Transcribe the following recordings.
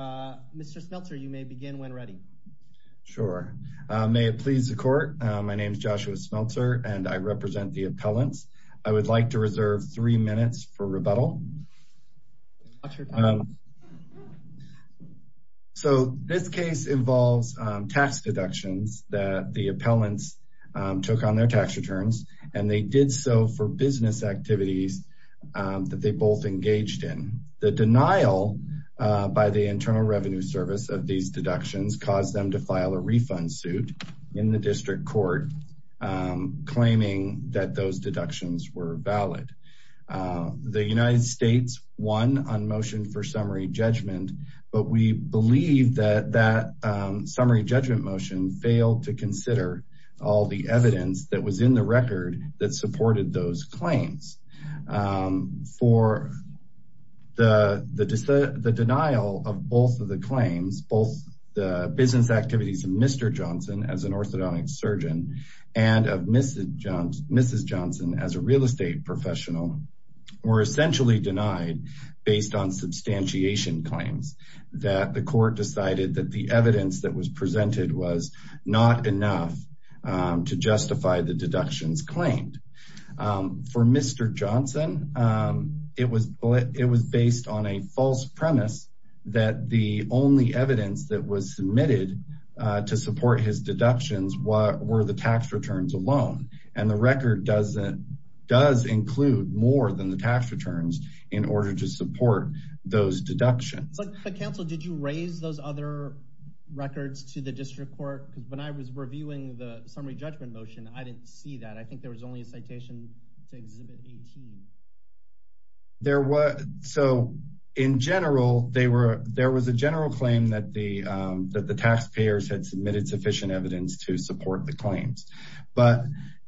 Mr. Smeltzer, you may begin when ready. Sure. May it please the court, my name is Joshua Smeltzer and I represent the appellants. I would like to reserve three minutes for rebuttal. So this case involves tax deductions that the appellants took on their tax returns and they did so for business activities that they both engaged in. The denial by the Internal Revenue Service of these deductions caused them to file a refund suit in the district court claiming that those deductions were valid. The United States won on motion for summary judgment but we believe that that summary judgment motion failed to consider all the evidence that was in the record that supported those claims. For the denial of both of the claims, both the business activities of Mr. Johnson as an orthodontic surgeon and of Mrs. Johnson as a real estate professional were essentially denied based on substantiation claims that the court decided that the evidence that was presented was not enough to justify the Mr. Johnson. It was based on a false premise that the only evidence that was submitted to support his deductions were the tax returns alone and the record does include more than the tax returns in order to support those deductions. But counsel did you raise those other records to the district court because when I was reviewing the summary judgment motion I didn't see that I think there was only a citation to exhibit 18. There was so in general they were there was a general claim that the that the taxpayers had submitted sufficient evidence to support the claims but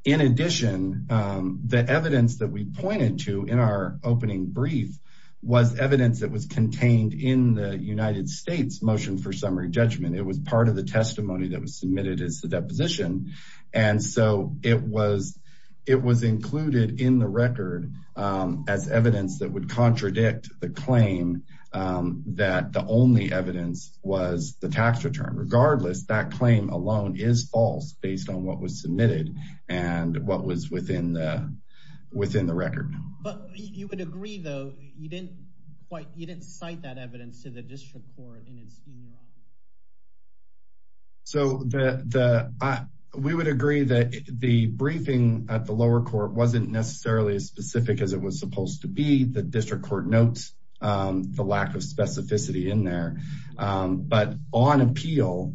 in addition the evidence that we pointed to in our opening brief was evidence that was contained in the United States motion for summary judgment. It was part of the testimony that was submitted as the deposition and so it was it was included in the record as evidence that would contradict the claim that the only evidence was the tax return. Regardless that claim alone is false based on what was submitted and what was within the within the record. But you would agree though you didn't you didn't cite that evidence to the district court in its in your opinion? So we would agree that the briefing at the lower court wasn't necessarily as specific as it was supposed to be. The district court notes the lack of specificity in there but on appeal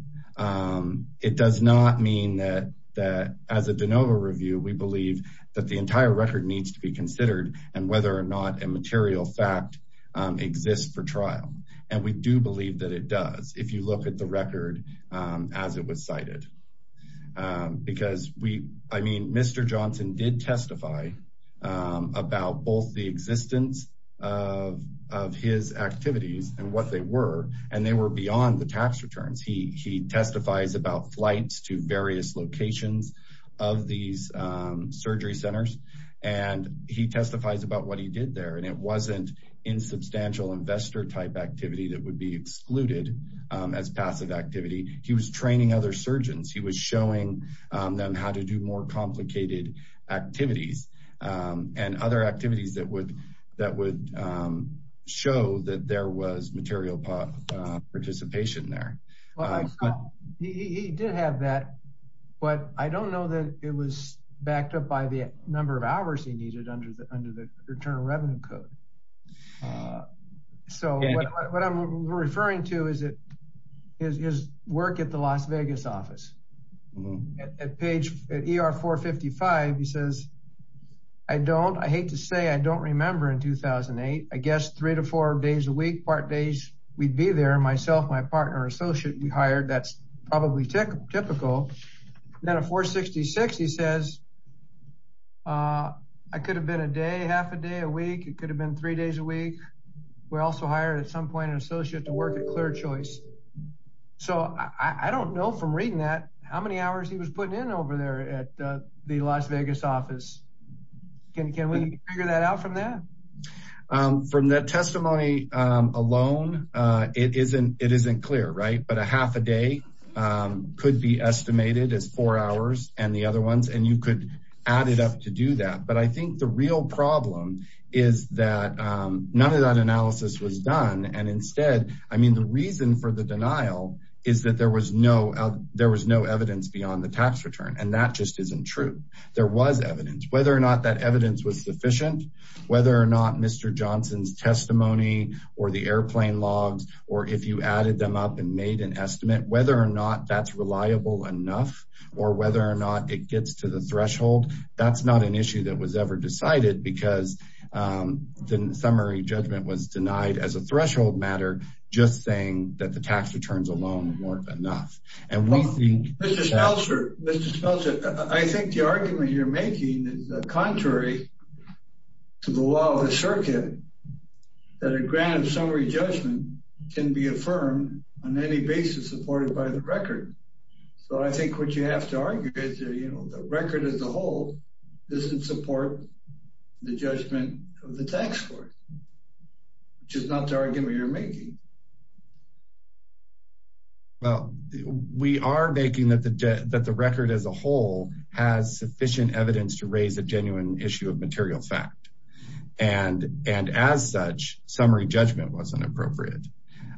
it does not mean that that as a de novo review we believe that the entire record needs to be considered and whether or not a material fact exists for trial. And we do believe that it does if you look at the record as it was cited. Because we I mean Mr. Johnson did testify about both the existence of of his activities and what they were and they were beyond the tax returns. He he testifies about flights to various locations of these surgery centers and he testifies about what he did there and it wasn't insubstantial investor type activity that would be excluded as passive activity. He was training other surgeons. He was showing them how to do more complicated activities and other activities that would that would show that there was material participation there. He did have that but I don't know that it was backed up by the number of hours he needed under the under the return of revenue code. So what I'm referring to is it is his work at the Las Vegas office. At page at ER 455 he says I don't I hate to say I don't remember in 2008 I guess three to four days a week part days we'd be there myself my partner associate we hired that's probably typical typical. Then at 466 he says I could have been a day half a day a week it could have been three days a week. We're also hired at some point an associate to work at Clear Choice. So I don't know from reading that how many hours he was putting in over there at the Las Vegas office. Can we figure that out from that? From that testimony alone it isn't it isn't clear right but a half a day could be estimated as four hours and the other ones and you could add it up to do that but I think the real problem is that none of that analysis was done and instead I mean the reason for the denial is that there was no there was no evidence beyond the tax return and that just isn't true. There was evidence whether or not that evidence was sufficient whether or not Mr. Johnson's testimony or the airplane logs or if you added them up and made an estimate whether or not that's reliable enough or whether or not it gets to the threshold that's not an issue that was ever decided because the summary judgment was denied as a threshold matter just saying that the tax returns alone weren't enough and we think. Mr. Spelzer I think the argument you're making is contrary to the law of the circuit that a grant of summary judgment can be affirmed on any basis supported by the record. So I think what you have to argue is you know the record as a whole doesn't support the judgment of the tax court which is not the argument you're making. Well we are making that the record as a whole has sufficient evidence to raise a genuine issue of material fact and as such summary judgment was inappropriate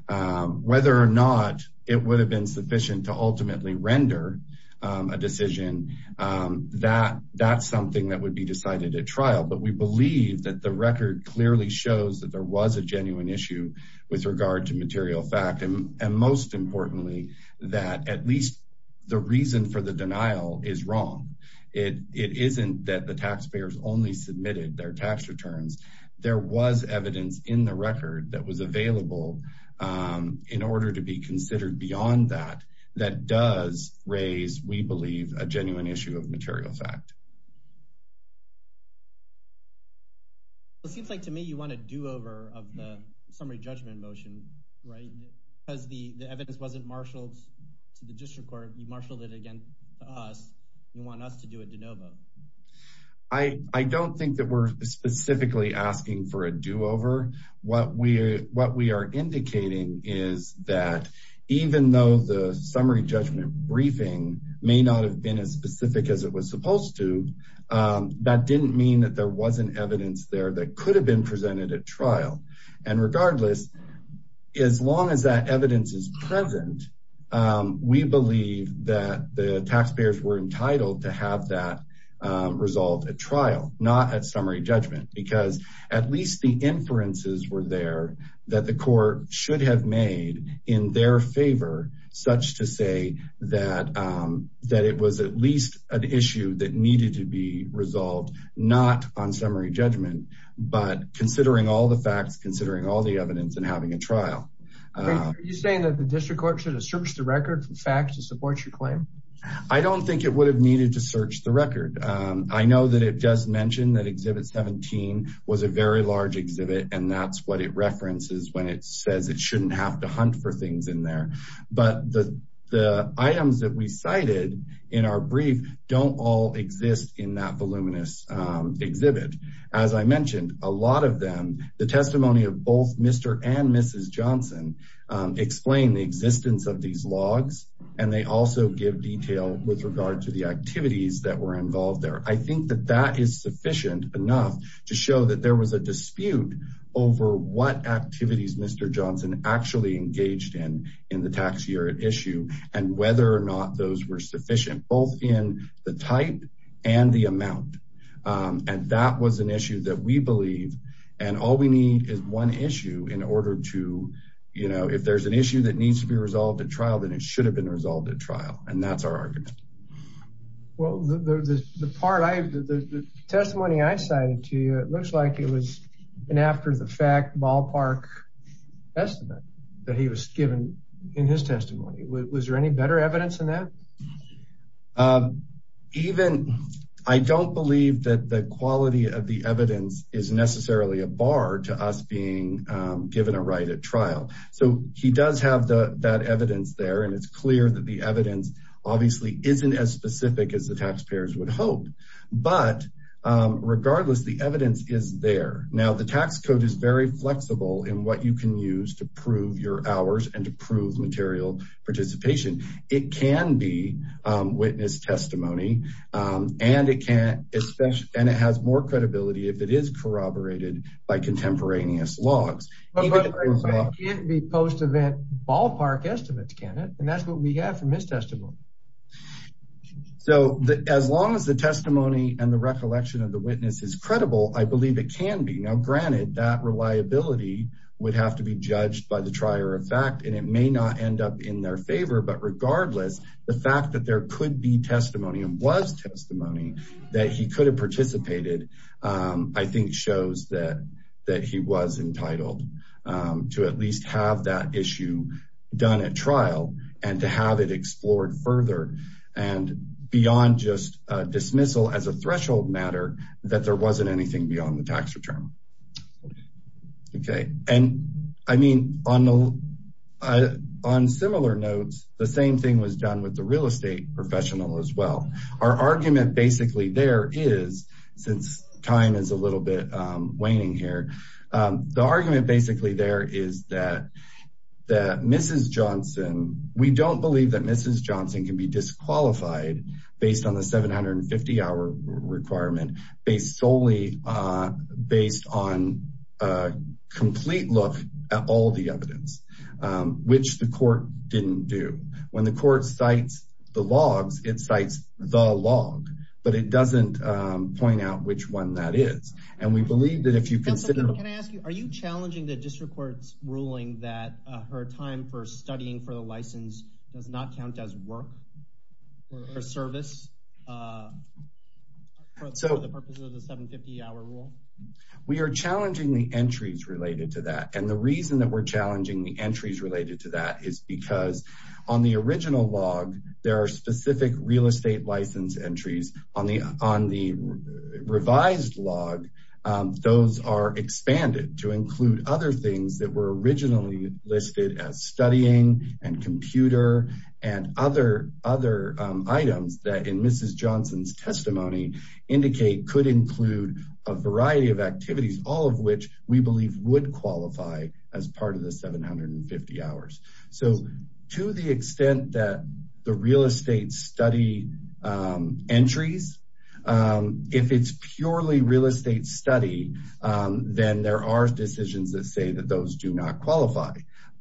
whether or not it would have been sufficient to ultimately render a decision that that's something that would be decided at trial but we believe that the record clearly shows that there was a genuine issue with regard to material fact and most importantly that at least the reason for the denial is wrong. It isn't that the taxpayers only submitted their tax returns there was evidence in the record that was available in order to be considered beyond that that does raise we believe a genuine issue of material fact. It seems like to me you want a do-over of the summary judgment motion right because the the evidence wasn't marshaled to the district court you marshaled it against us you want us to do it de novo. I don't think that we're specifically asking for a do-over what we what we are indicating is that even though the summary judgment briefing may not have been as specific as it was that could have been presented at trial and regardless as long as that evidence is present we believe that the taxpayers were entitled to have that resolved at trial not at summary judgment because at least the inferences were there that the court should have made in their favor such to say that that it was at least an issue that needed to be resolved not on summary judgment but considering all the facts considering all the evidence and having a trial. Are you saying that the district court should have searched the record for facts to support your claim? I don't think it would have needed to search the record. I know that it just mentioned that exhibit 17 was a very large exhibit and that's what it references when it says it shouldn't have to hunt for things in there but the the items that we cited in our brief don't all exist in that voluminous exhibit. As I mentioned a lot of them the testimony of both Mr. and Mrs. Johnson explain the existence of these logs and they also give detail with regard to the activities that were involved there. I think that that is sufficient enough to show that there was a dispute over what activities Mr. Johnson actually engaged in in the tax year at issue and whether or not those were sufficient both in the type and the amount and that was an issue that we believe and all we need is one issue in order to you know if there's an issue that needs to be resolved at trial then it should have been resolved at trial and that's our argument. Well the part I the testimony I cited to you it looks like it was an after-the-fact ballpark estimate that he was given in his testimony. Was there any better evidence than that? Even I don't believe that the quality of the evidence is necessarily a bar to us being given a right at trial. So he does have the that evidence there and it's clear that the evidence obviously isn't as specific as the taxpayers would hope but regardless the evidence is there. Now the tax code is very flexible in what you can use to prove your hours and to prove material participation. It can be witness testimony and it can especially and it has more credibility if it is corroborated by contemporaneous logs. But it can't be post-event ballpark estimates can it and that's what we have from his testimony? So as long as the testimony and the recollection of the witness is credible I believe it can be. Now granted that reliability would have to be judged by the trier of fact and it may not end up in their favor but regardless the fact that there could be testimony and was testimony that he could have participated I think shows that that he was entitled to at least have that issue done at trial and to have it explored further and beyond just a dismissal as a threshold matter that there wasn't anything beyond the and I mean on the on similar notes the same thing was done with the real estate professional as well. Our argument basically there is since time is a little bit waning here the argument basically there is that that Mrs. Johnson we don't believe that Mrs. Johnson can be disqualified based on the 750 hour requirement based solely based on a complete look at all the evidence which the court didn't do. When the court cites the logs it cites the log but it doesn't point out which one that is and we believe that if you consider. Can I ask you are you challenging the district court's ruling that her time for studying for the license does not count as work or service for the purpose of the 750 hour rule? We are challenging the entries related to that and the reason that we're challenging the entries related to that is because on the original log there are specific real estate license entries on the on the revised log those are expanded to include other things that were originally listed as studying and computer and other other items that in Mrs. Johnson's testimony indicate could include a variety of activities all of which we believe would qualify as part of the 750 hours. So to the extent that the real estate study entries if it's purely real estate study then there are decisions that say that those do not qualify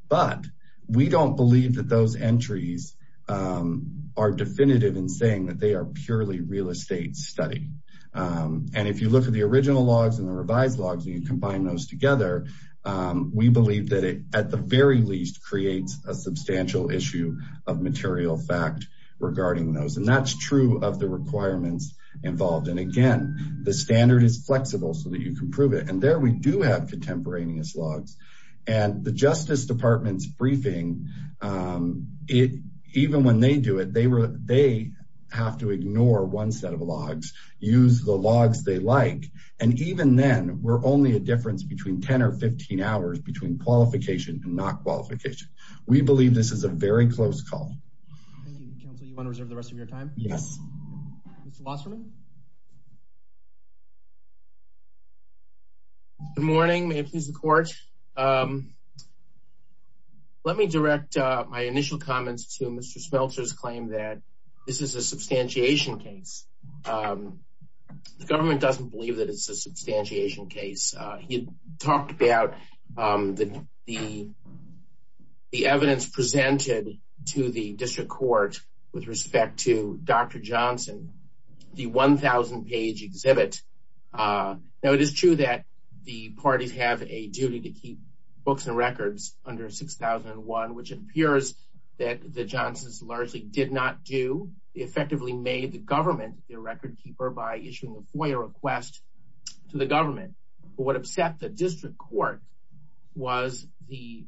but we don't believe that those entries are definitive in saying that they are purely real estate study and if you look at the original logs and the revised logs and you combine those together we believe that it at the very least creates a substantial issue of material fact regarding those and that's true of the requirements involved and again the standard is flexible so that you can prove it and there we do have contemporaneous logs and the justice department's briefing it even when they do it they were they have to ignore one set of logs use the logs they like and even then we're only a difference between 10 or 15 hours between qualification and not qualification we believe this is a very close call. Thank you council you want to reserve the rest of your time? Yes. Mr. Wasserman? Good morning may it please the court let me direct my initial comments to Mr. Smelter's claim that this is a substantiation case the government doesn't believe that it's a substantiation case he talked about the the evidence presented to the district court with respect to Dr. Johnson the 1,000 page exhibit now it is true that the parties have a duty to keep books and records under 6001 which appears that the Johnsons largely did not do effectively made the government their record keeper by issuing a FOIA request to the government but what upset the district court was the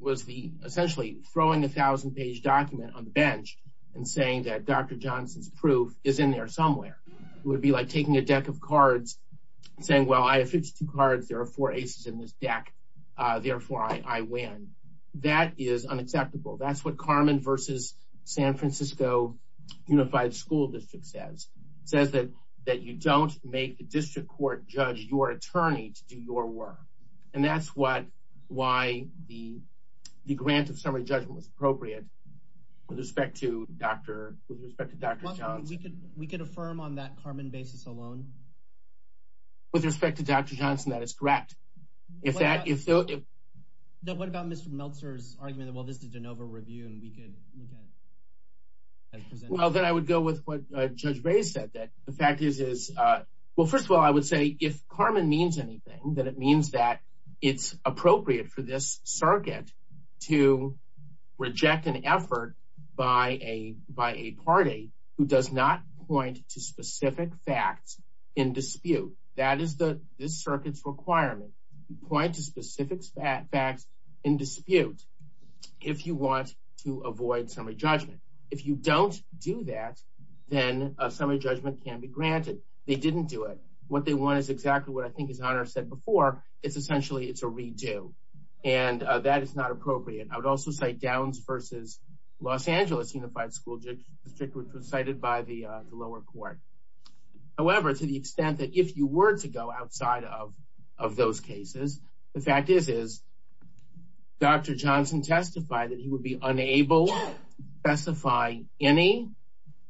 was the essentially throwing a thousand page document on the bench and saying that Dr. Johnson's proof is in there somewhere it would be like taking a deck of cards saying well I have 52 cards there are four aces in this deck therefore I win that is unacceptable that's what Carmen versus San Francisco Unified School District says says that that you don't make the district court judge your attorney to do your work and that's what why the the grant of summary judgment was appropriate with respect to Dr. with respect to Dr. Johnson we could affirm on that Carmen basis alone with respect to Dr. Johnson that is correct if that if now what about Mr. Meltzer's argument that well this is de novo review and we could well then I would go with what Judge said that the fact is is uh well first of all I would say if Carmen means anything that it means that it's appropriate for this circuit to reject an effort by a by a party who does not point to specific facts in dispute that is the this circuit's requirement point to specific facts in dispute if you want to avoid summary judgment if you don't do that then a summary judgment can be granted they didn't do it what they want is exactly what I think his honor said before it's essentially it's a redo and that is not appropriate I would also say Downs versus Los Angeles Unified School District was cited by the lower court however to the extent that if you were to go outside of of those cases the fact is is Dr. Johnson testified that he would be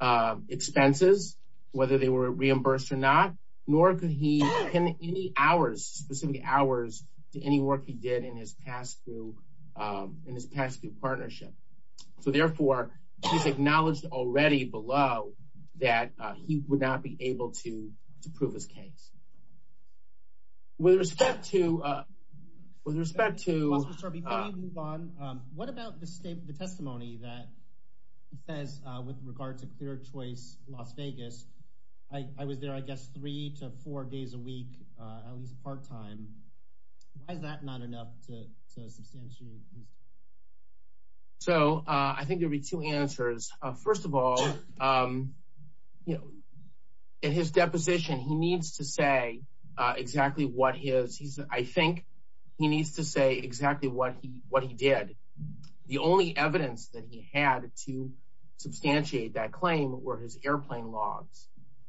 uh expenses whether they were reimbursed or not nor could he pin any hours specific hours to any work he did in his past through um in his past through partnership so therefore he's acknowledged already below that he would not be able to to prove his case with respect to uh with respect to before we move on um what about the state the testimony that says uh with regard to clear choice Las Vegas I I was there I guess three to four days a week uh at least part-time why is that not enough to to substantially increase so uh I think there'll be two answers first of all um you know in his deposition he needs to say uh exactly what his he's I think he needs to say exactly what he what he did the only evidence that he had to substantiate that claim were his airplane logs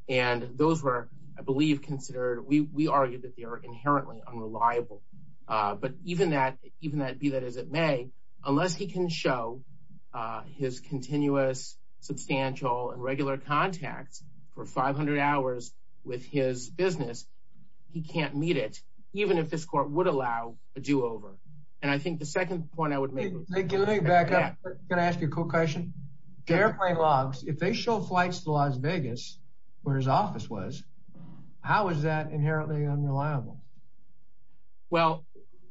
and those were I believe considered we we argued that they are inherently unreliable uh but even that even that be that as it may unless he can show uh his continuous substantial and regular contacts for 500 hours with his business he can't meet it even if this court would allow a do-over and I think the second point I would make thank you let me back up I'm gonna ask you a quick question airplane logs if they show flights to Las Vegas where his office was how is that inherently unreliable well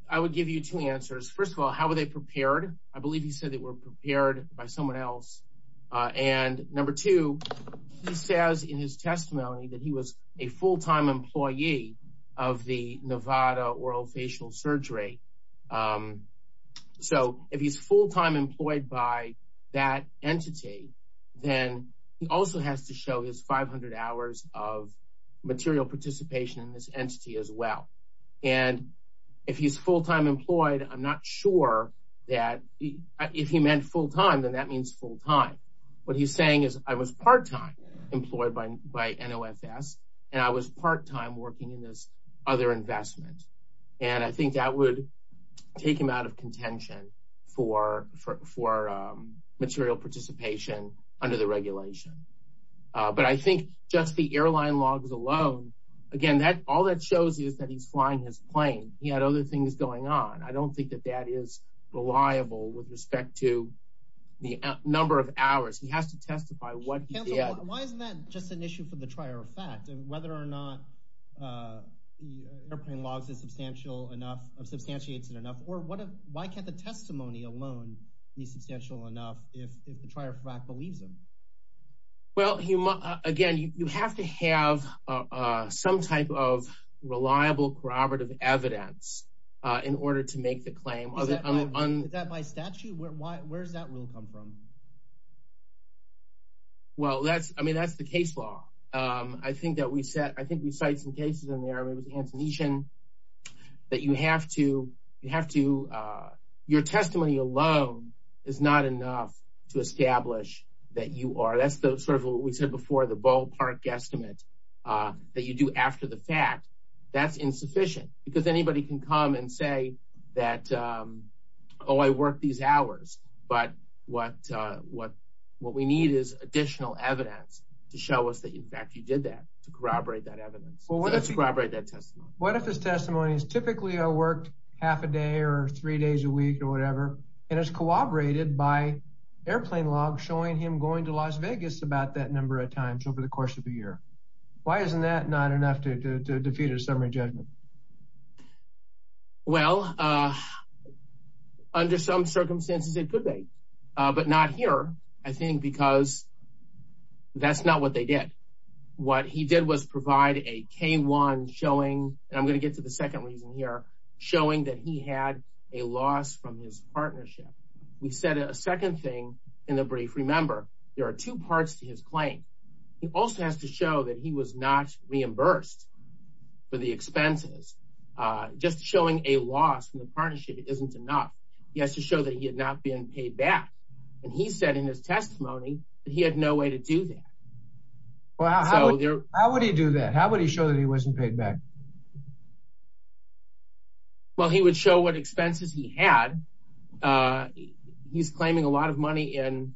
I would give you two answers first of all how were they prepared I believe he said they were prepared by someone else and number two he says in his testimony that he was a full-time employee of the Nevada oral facial surgery um so if he's full-time employed by that entity then he also has to show his 500 hours of material participation in this entity as well and if he's full-time employed I'm not sure that if he meant full-time then that means full-time what he's saying is I was part-time employed by by NOFS and I was part-time working in this other investment and I think that would take him out of contention for for um material participation under the regulation but I think just the airline logs alone again that all that shows is that he's flying his plane he had other things going on I don't think that that is reliable with respect to the number of why isn't that just an issue for the trier of fact whether or not uh airplane logs is substantial enough substantiates it enough or what why can't the testimony alone be substantial enough if if the trier of fact believes him well you must again you have to have uh some type of reliable corroborative evidence uh in order to make the claim is that is that by statute where why where does that rule come from well that's I mean that's the case law um I think that we said I think we cite some cases in there it was antonician that you have to you have to uh your testimony alone is not enough to establish that you are that's the sort of what we said before the ballpark estimate uh that you do after the fact that's insufficient because anybody can come and say that um oh I work these hours but what uh what what we need is additional evidence to show us that in fact you did that to corroborate that evidence well let's corroborate that testimony what if his testimony is typically I worked half a day or three days a week or whatever and it's corroborated by airplane log showing him going to Las Vegas about that number of times over the course of a year why isn't that not enough to defeat a summary judgment well uh under some circumstances it could be but not here I think because that's not what they did what he did was provide a k1 showing and I'm going to get to the second reason here showing that he had a loss from his partnership we said a second thing in the brief remember there are two parts to his claim he also has to show that he was not reimbursed for the expenses uh just showing a loss from the partnership it isn't enough he has to show that he had not been paid back and he said in his testimony that he had no way to do that well how would he do that how would he show that he wasn't paid back well he would show what expenses he had uh he's claiming a lot of money in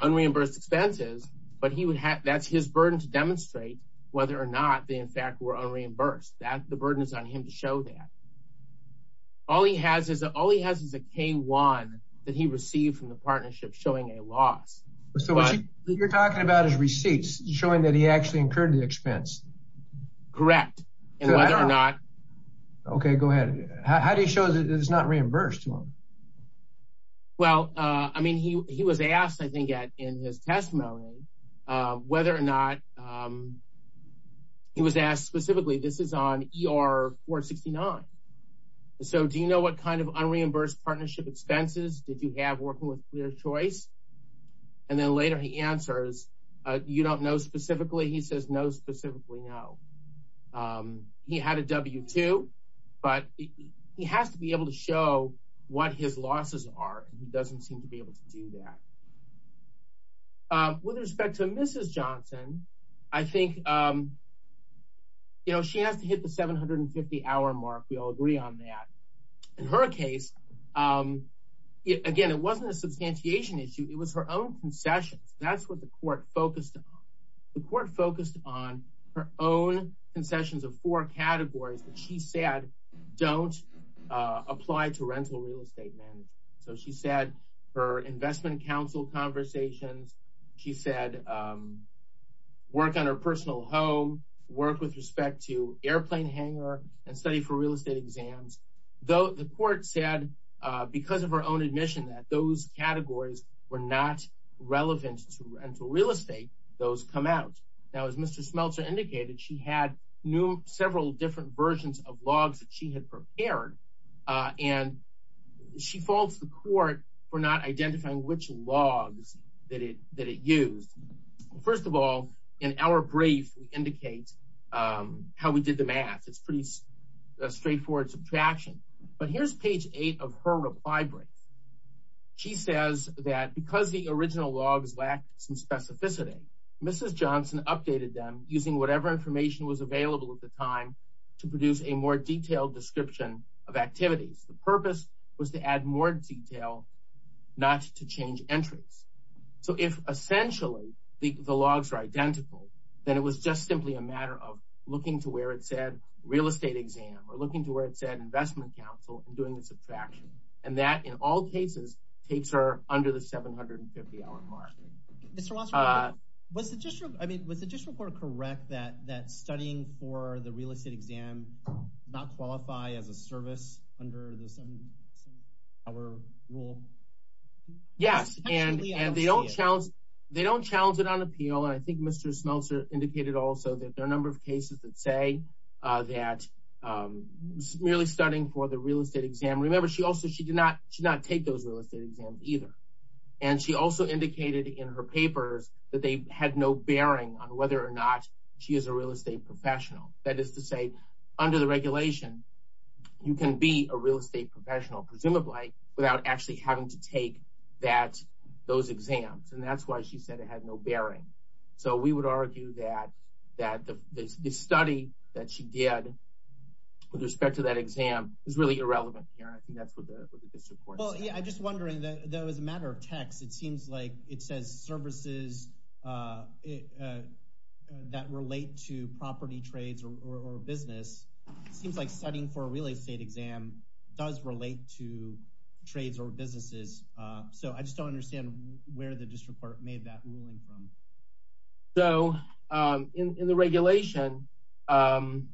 unreimbursed expenses but he would have that's his burden to demonstrate whether or not they in fact were unreimbursed that the burden is on him to show that all he has is all he has is a k1 that he received from the partnership showing a loss so you're talking about his receipts showing that he actually incurred the expense correct and whether or not okay go ahead how do you show that it's not reimbursed to him well uh i mean he he was asked i think at in his testimony uh whether or not um he was asked specifically this is on er 469 so do you know what kind of unreimbursed partnership expenses did you have working with clear choice and then later he answers uh you don't know specifically he says no specifically no um he had a w2 but he has to be able to show what his losses are and he doesn't seem to be able to do that with respect to mrs johnson i think um you know she has to hit the 750 hour mark we all agree on that in her case um again it wasn't a substantiation issue it was her own concessions that's what the court focused on the court focused on her own concessions of four categories that she said don't uh apply to rental real estate management so she said her investment council conversations she said um work on her personal home work with respect to airplane hangar and study for real estate exams though the court said uh because of her own admission that those categories were not relevant to rental real estate those come out now as mr smelter indicated she had new several different versions of logs that she had prepared uh and she falls the court for not identifying which logs that it that it used first of all in our brief indicates um how we did the math it's pretty straightforward subtraction but here's page eight of her reply brief she says that because the original logs lacked some specificity mrs johnson updated them using whatever information was available at the time to produce a more detailed description of activities the purpose was to add more detail not to change entries so if essentially the the logs are identical then it was just simply a matter of looking to where it said real estate exam or looking to where it said investment council and doing the subtraction and that in all cases takes her under the 750 hour mark mr was it just i mean was it just report correct that that studying for the real estate exam not qualify as a service under the 70 hour rule yes and and they don't challenge they don't challenge it on appeal and i think mr smelter indicated also that there are a number of cases that say uh that um merely studying for the real estate exam remember she also she did not take those real estate exams either and she also indicated in her papers that they had no bearing on whether or not she is a real estate professional that is to say under the regulation you can be a real estate professional presumably without actually having to take that those exams and that's why she said it had no bearing so we would argue that that the study that she did with respect to that exam is really irrelevant here i think that's what the district court well yeah i just wondering that though as a matter of text it seems like it says services uh that relate to property trades or business it seems like studying for a real estate exam does relate to trades or businesses uh so i just don't understand where the district court made that ruling from so um in in the regulation um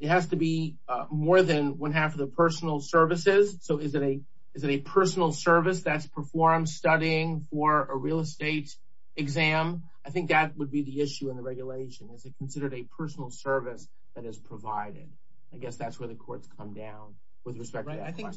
it has to be more than one half of the personal services so is it a is it a personal service that's performed studying for a real estate exam i think that would be the issue in the regulation is it considered a personal service that is provided i guess that's where the courts come down with respect right i think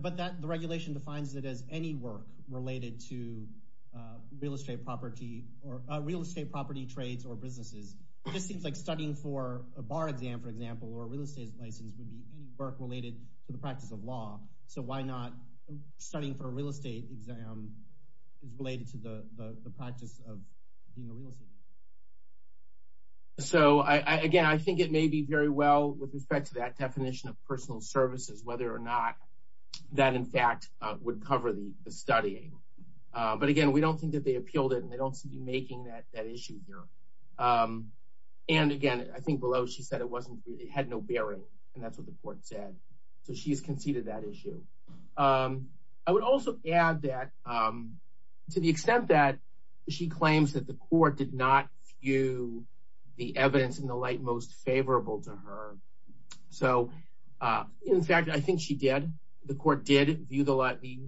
but that the regulation defines it as any work related to uh real estate property or real estate property trades or businesses it just seems like studying for a bar exam for example or a real estate license would be any work related to the practice of law so why not studying for a real estate exam is related to the the practice of being a real estate so i i again i think it may be very well with respect to that definition of personal services whether or not that in fact would cover the the studying but again we don't think that they appealed it and they don't seem to be um and again i think below she said it wasn't it had no bearing and that's what the court said so she's conceded that issue um i would also add that um to the extent that she claims that the court did not view the evidence in the light most favorable to her so uh in fact i think she did the court did view the light the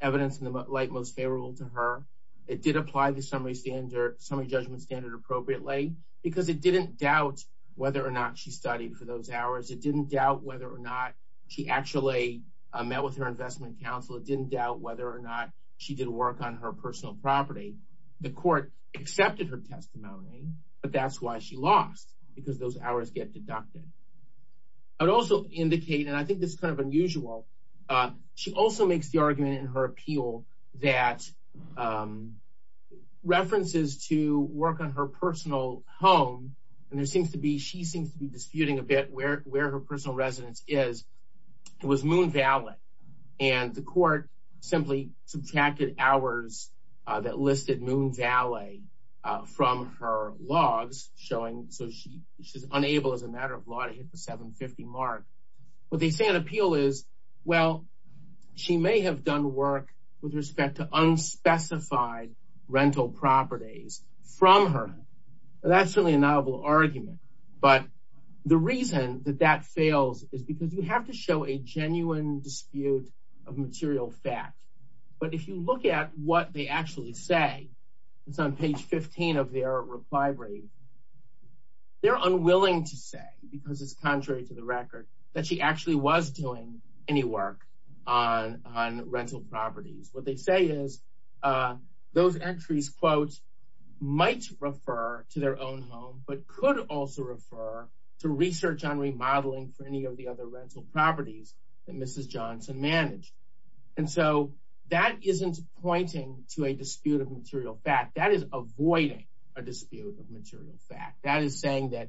evidence in the light most favorable to her it did apply the summary standard summary lay because it didn't doubt whether or not she studied for those hours it didn't doubt whether or not she actually met with her investment counsel it didn't doubt whether or not she did work on her personal property the court accepted her testimony but that's why she lost because those hours get deducted i would also indicate and i think this is kind of unusual uh she also makes the argument in her appeal that um references to work on her personal home and there seems to be she seems to be disputing a bit where where her personal residence is it was moon valley and the court simply subtracted hours that listed moon valley uh from her logs showing so she she's unable as a matter of law to hit the 750 mark what they say in appeal is well she may have done work with respect to unspecified rental properties from her that's certainly a novel argument but the reason that that fails is because you have to show a genuine dispute of material fact but if you look at what they actually say it's on page 15 of their reply rate they're unwilling to say because it's contrary to the record that she actually was doing any work on on rental properties what they say is those entries quotes might refer to their own home but could also refer to research on remodeling for any of the other rental properties that mrs johnson managed and so that isn't pointing to a dispute of material fact that is avoiding a dispute of material fact that is saying that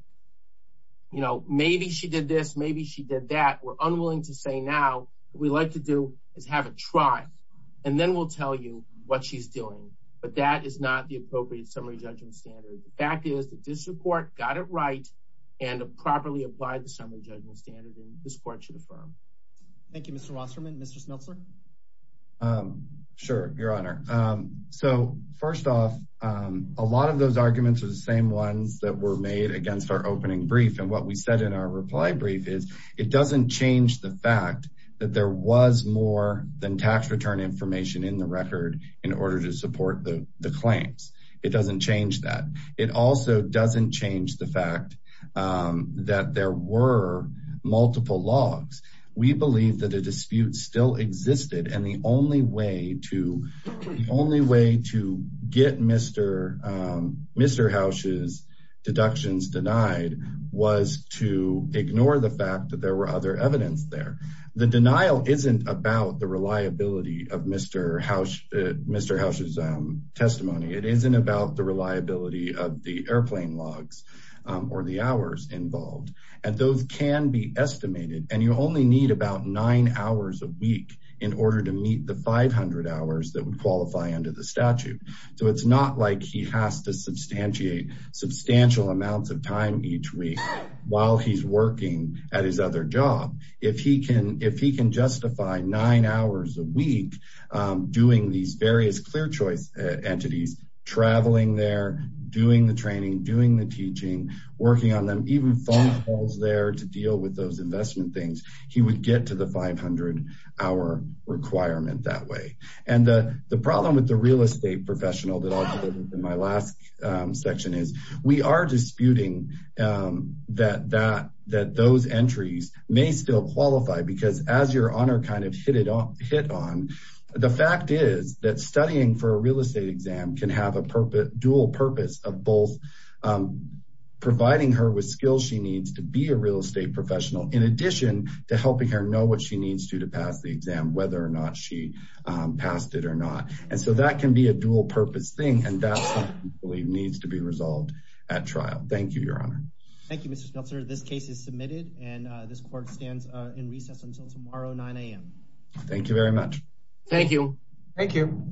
you know maybe she did this maybe she did that we're unwilling to say now what we like to do is have a trial and then we'll tell you what she's doing but that is not the appropriate summary judgment standard the fact is that this report got it right and properly applied the summary judgment standard and this court should affirm thank you mr rosserman mr smeltzer um sure your honor um so first off um a lot of those arguments are the same ones that were made against our opening brief and what we said in our reply brief is it doesn't change the fact that there was more than tax return information in the record in order to support the the claims it doesn't change that it also doesn't change the fact um that there were multiple logs we believe that the dispute still existed and the only way to the only way to get mr mr house's deductions denied was to ignore the fact that there were other evidence there the denial isn't about the reliability of mr house mr house's testimony it isn't about the reliability of the airplane logs or the hours involved and those can be estimated and you only need about nine hours a week in order to meet the 500 hours that would qualify under the statute so it's not like he has to substantiate substantial amounts of time each week while he's working at his other job if he can if he can justify nine hours a week doing these various clear choice entities traveling there doing the training doing the teaching working on them even phone calls there to deal with those investment things he would get to the 500 hour requirement that way and the the problem with the real estate professional that i'll put it in my last section is we are disputing um that that that those entries may still qualify because as your honor kind of hit it off hit on the fact is that studying for a real estate exam can have a purpose dual purpose of both um providing her with skills she needs to be a real estate professional in addition to helping her know what she needs to to pass the exam whether or not she um passed it or not and so that can be a dual purpose thing and that's something i believe needs to be resolved at trial thank you your honor thank you this case is submitted and uh this court stands uh in recess until tomorrow 9 a.m thank you very much thank you thank you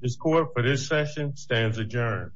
this court for this session stands adjourned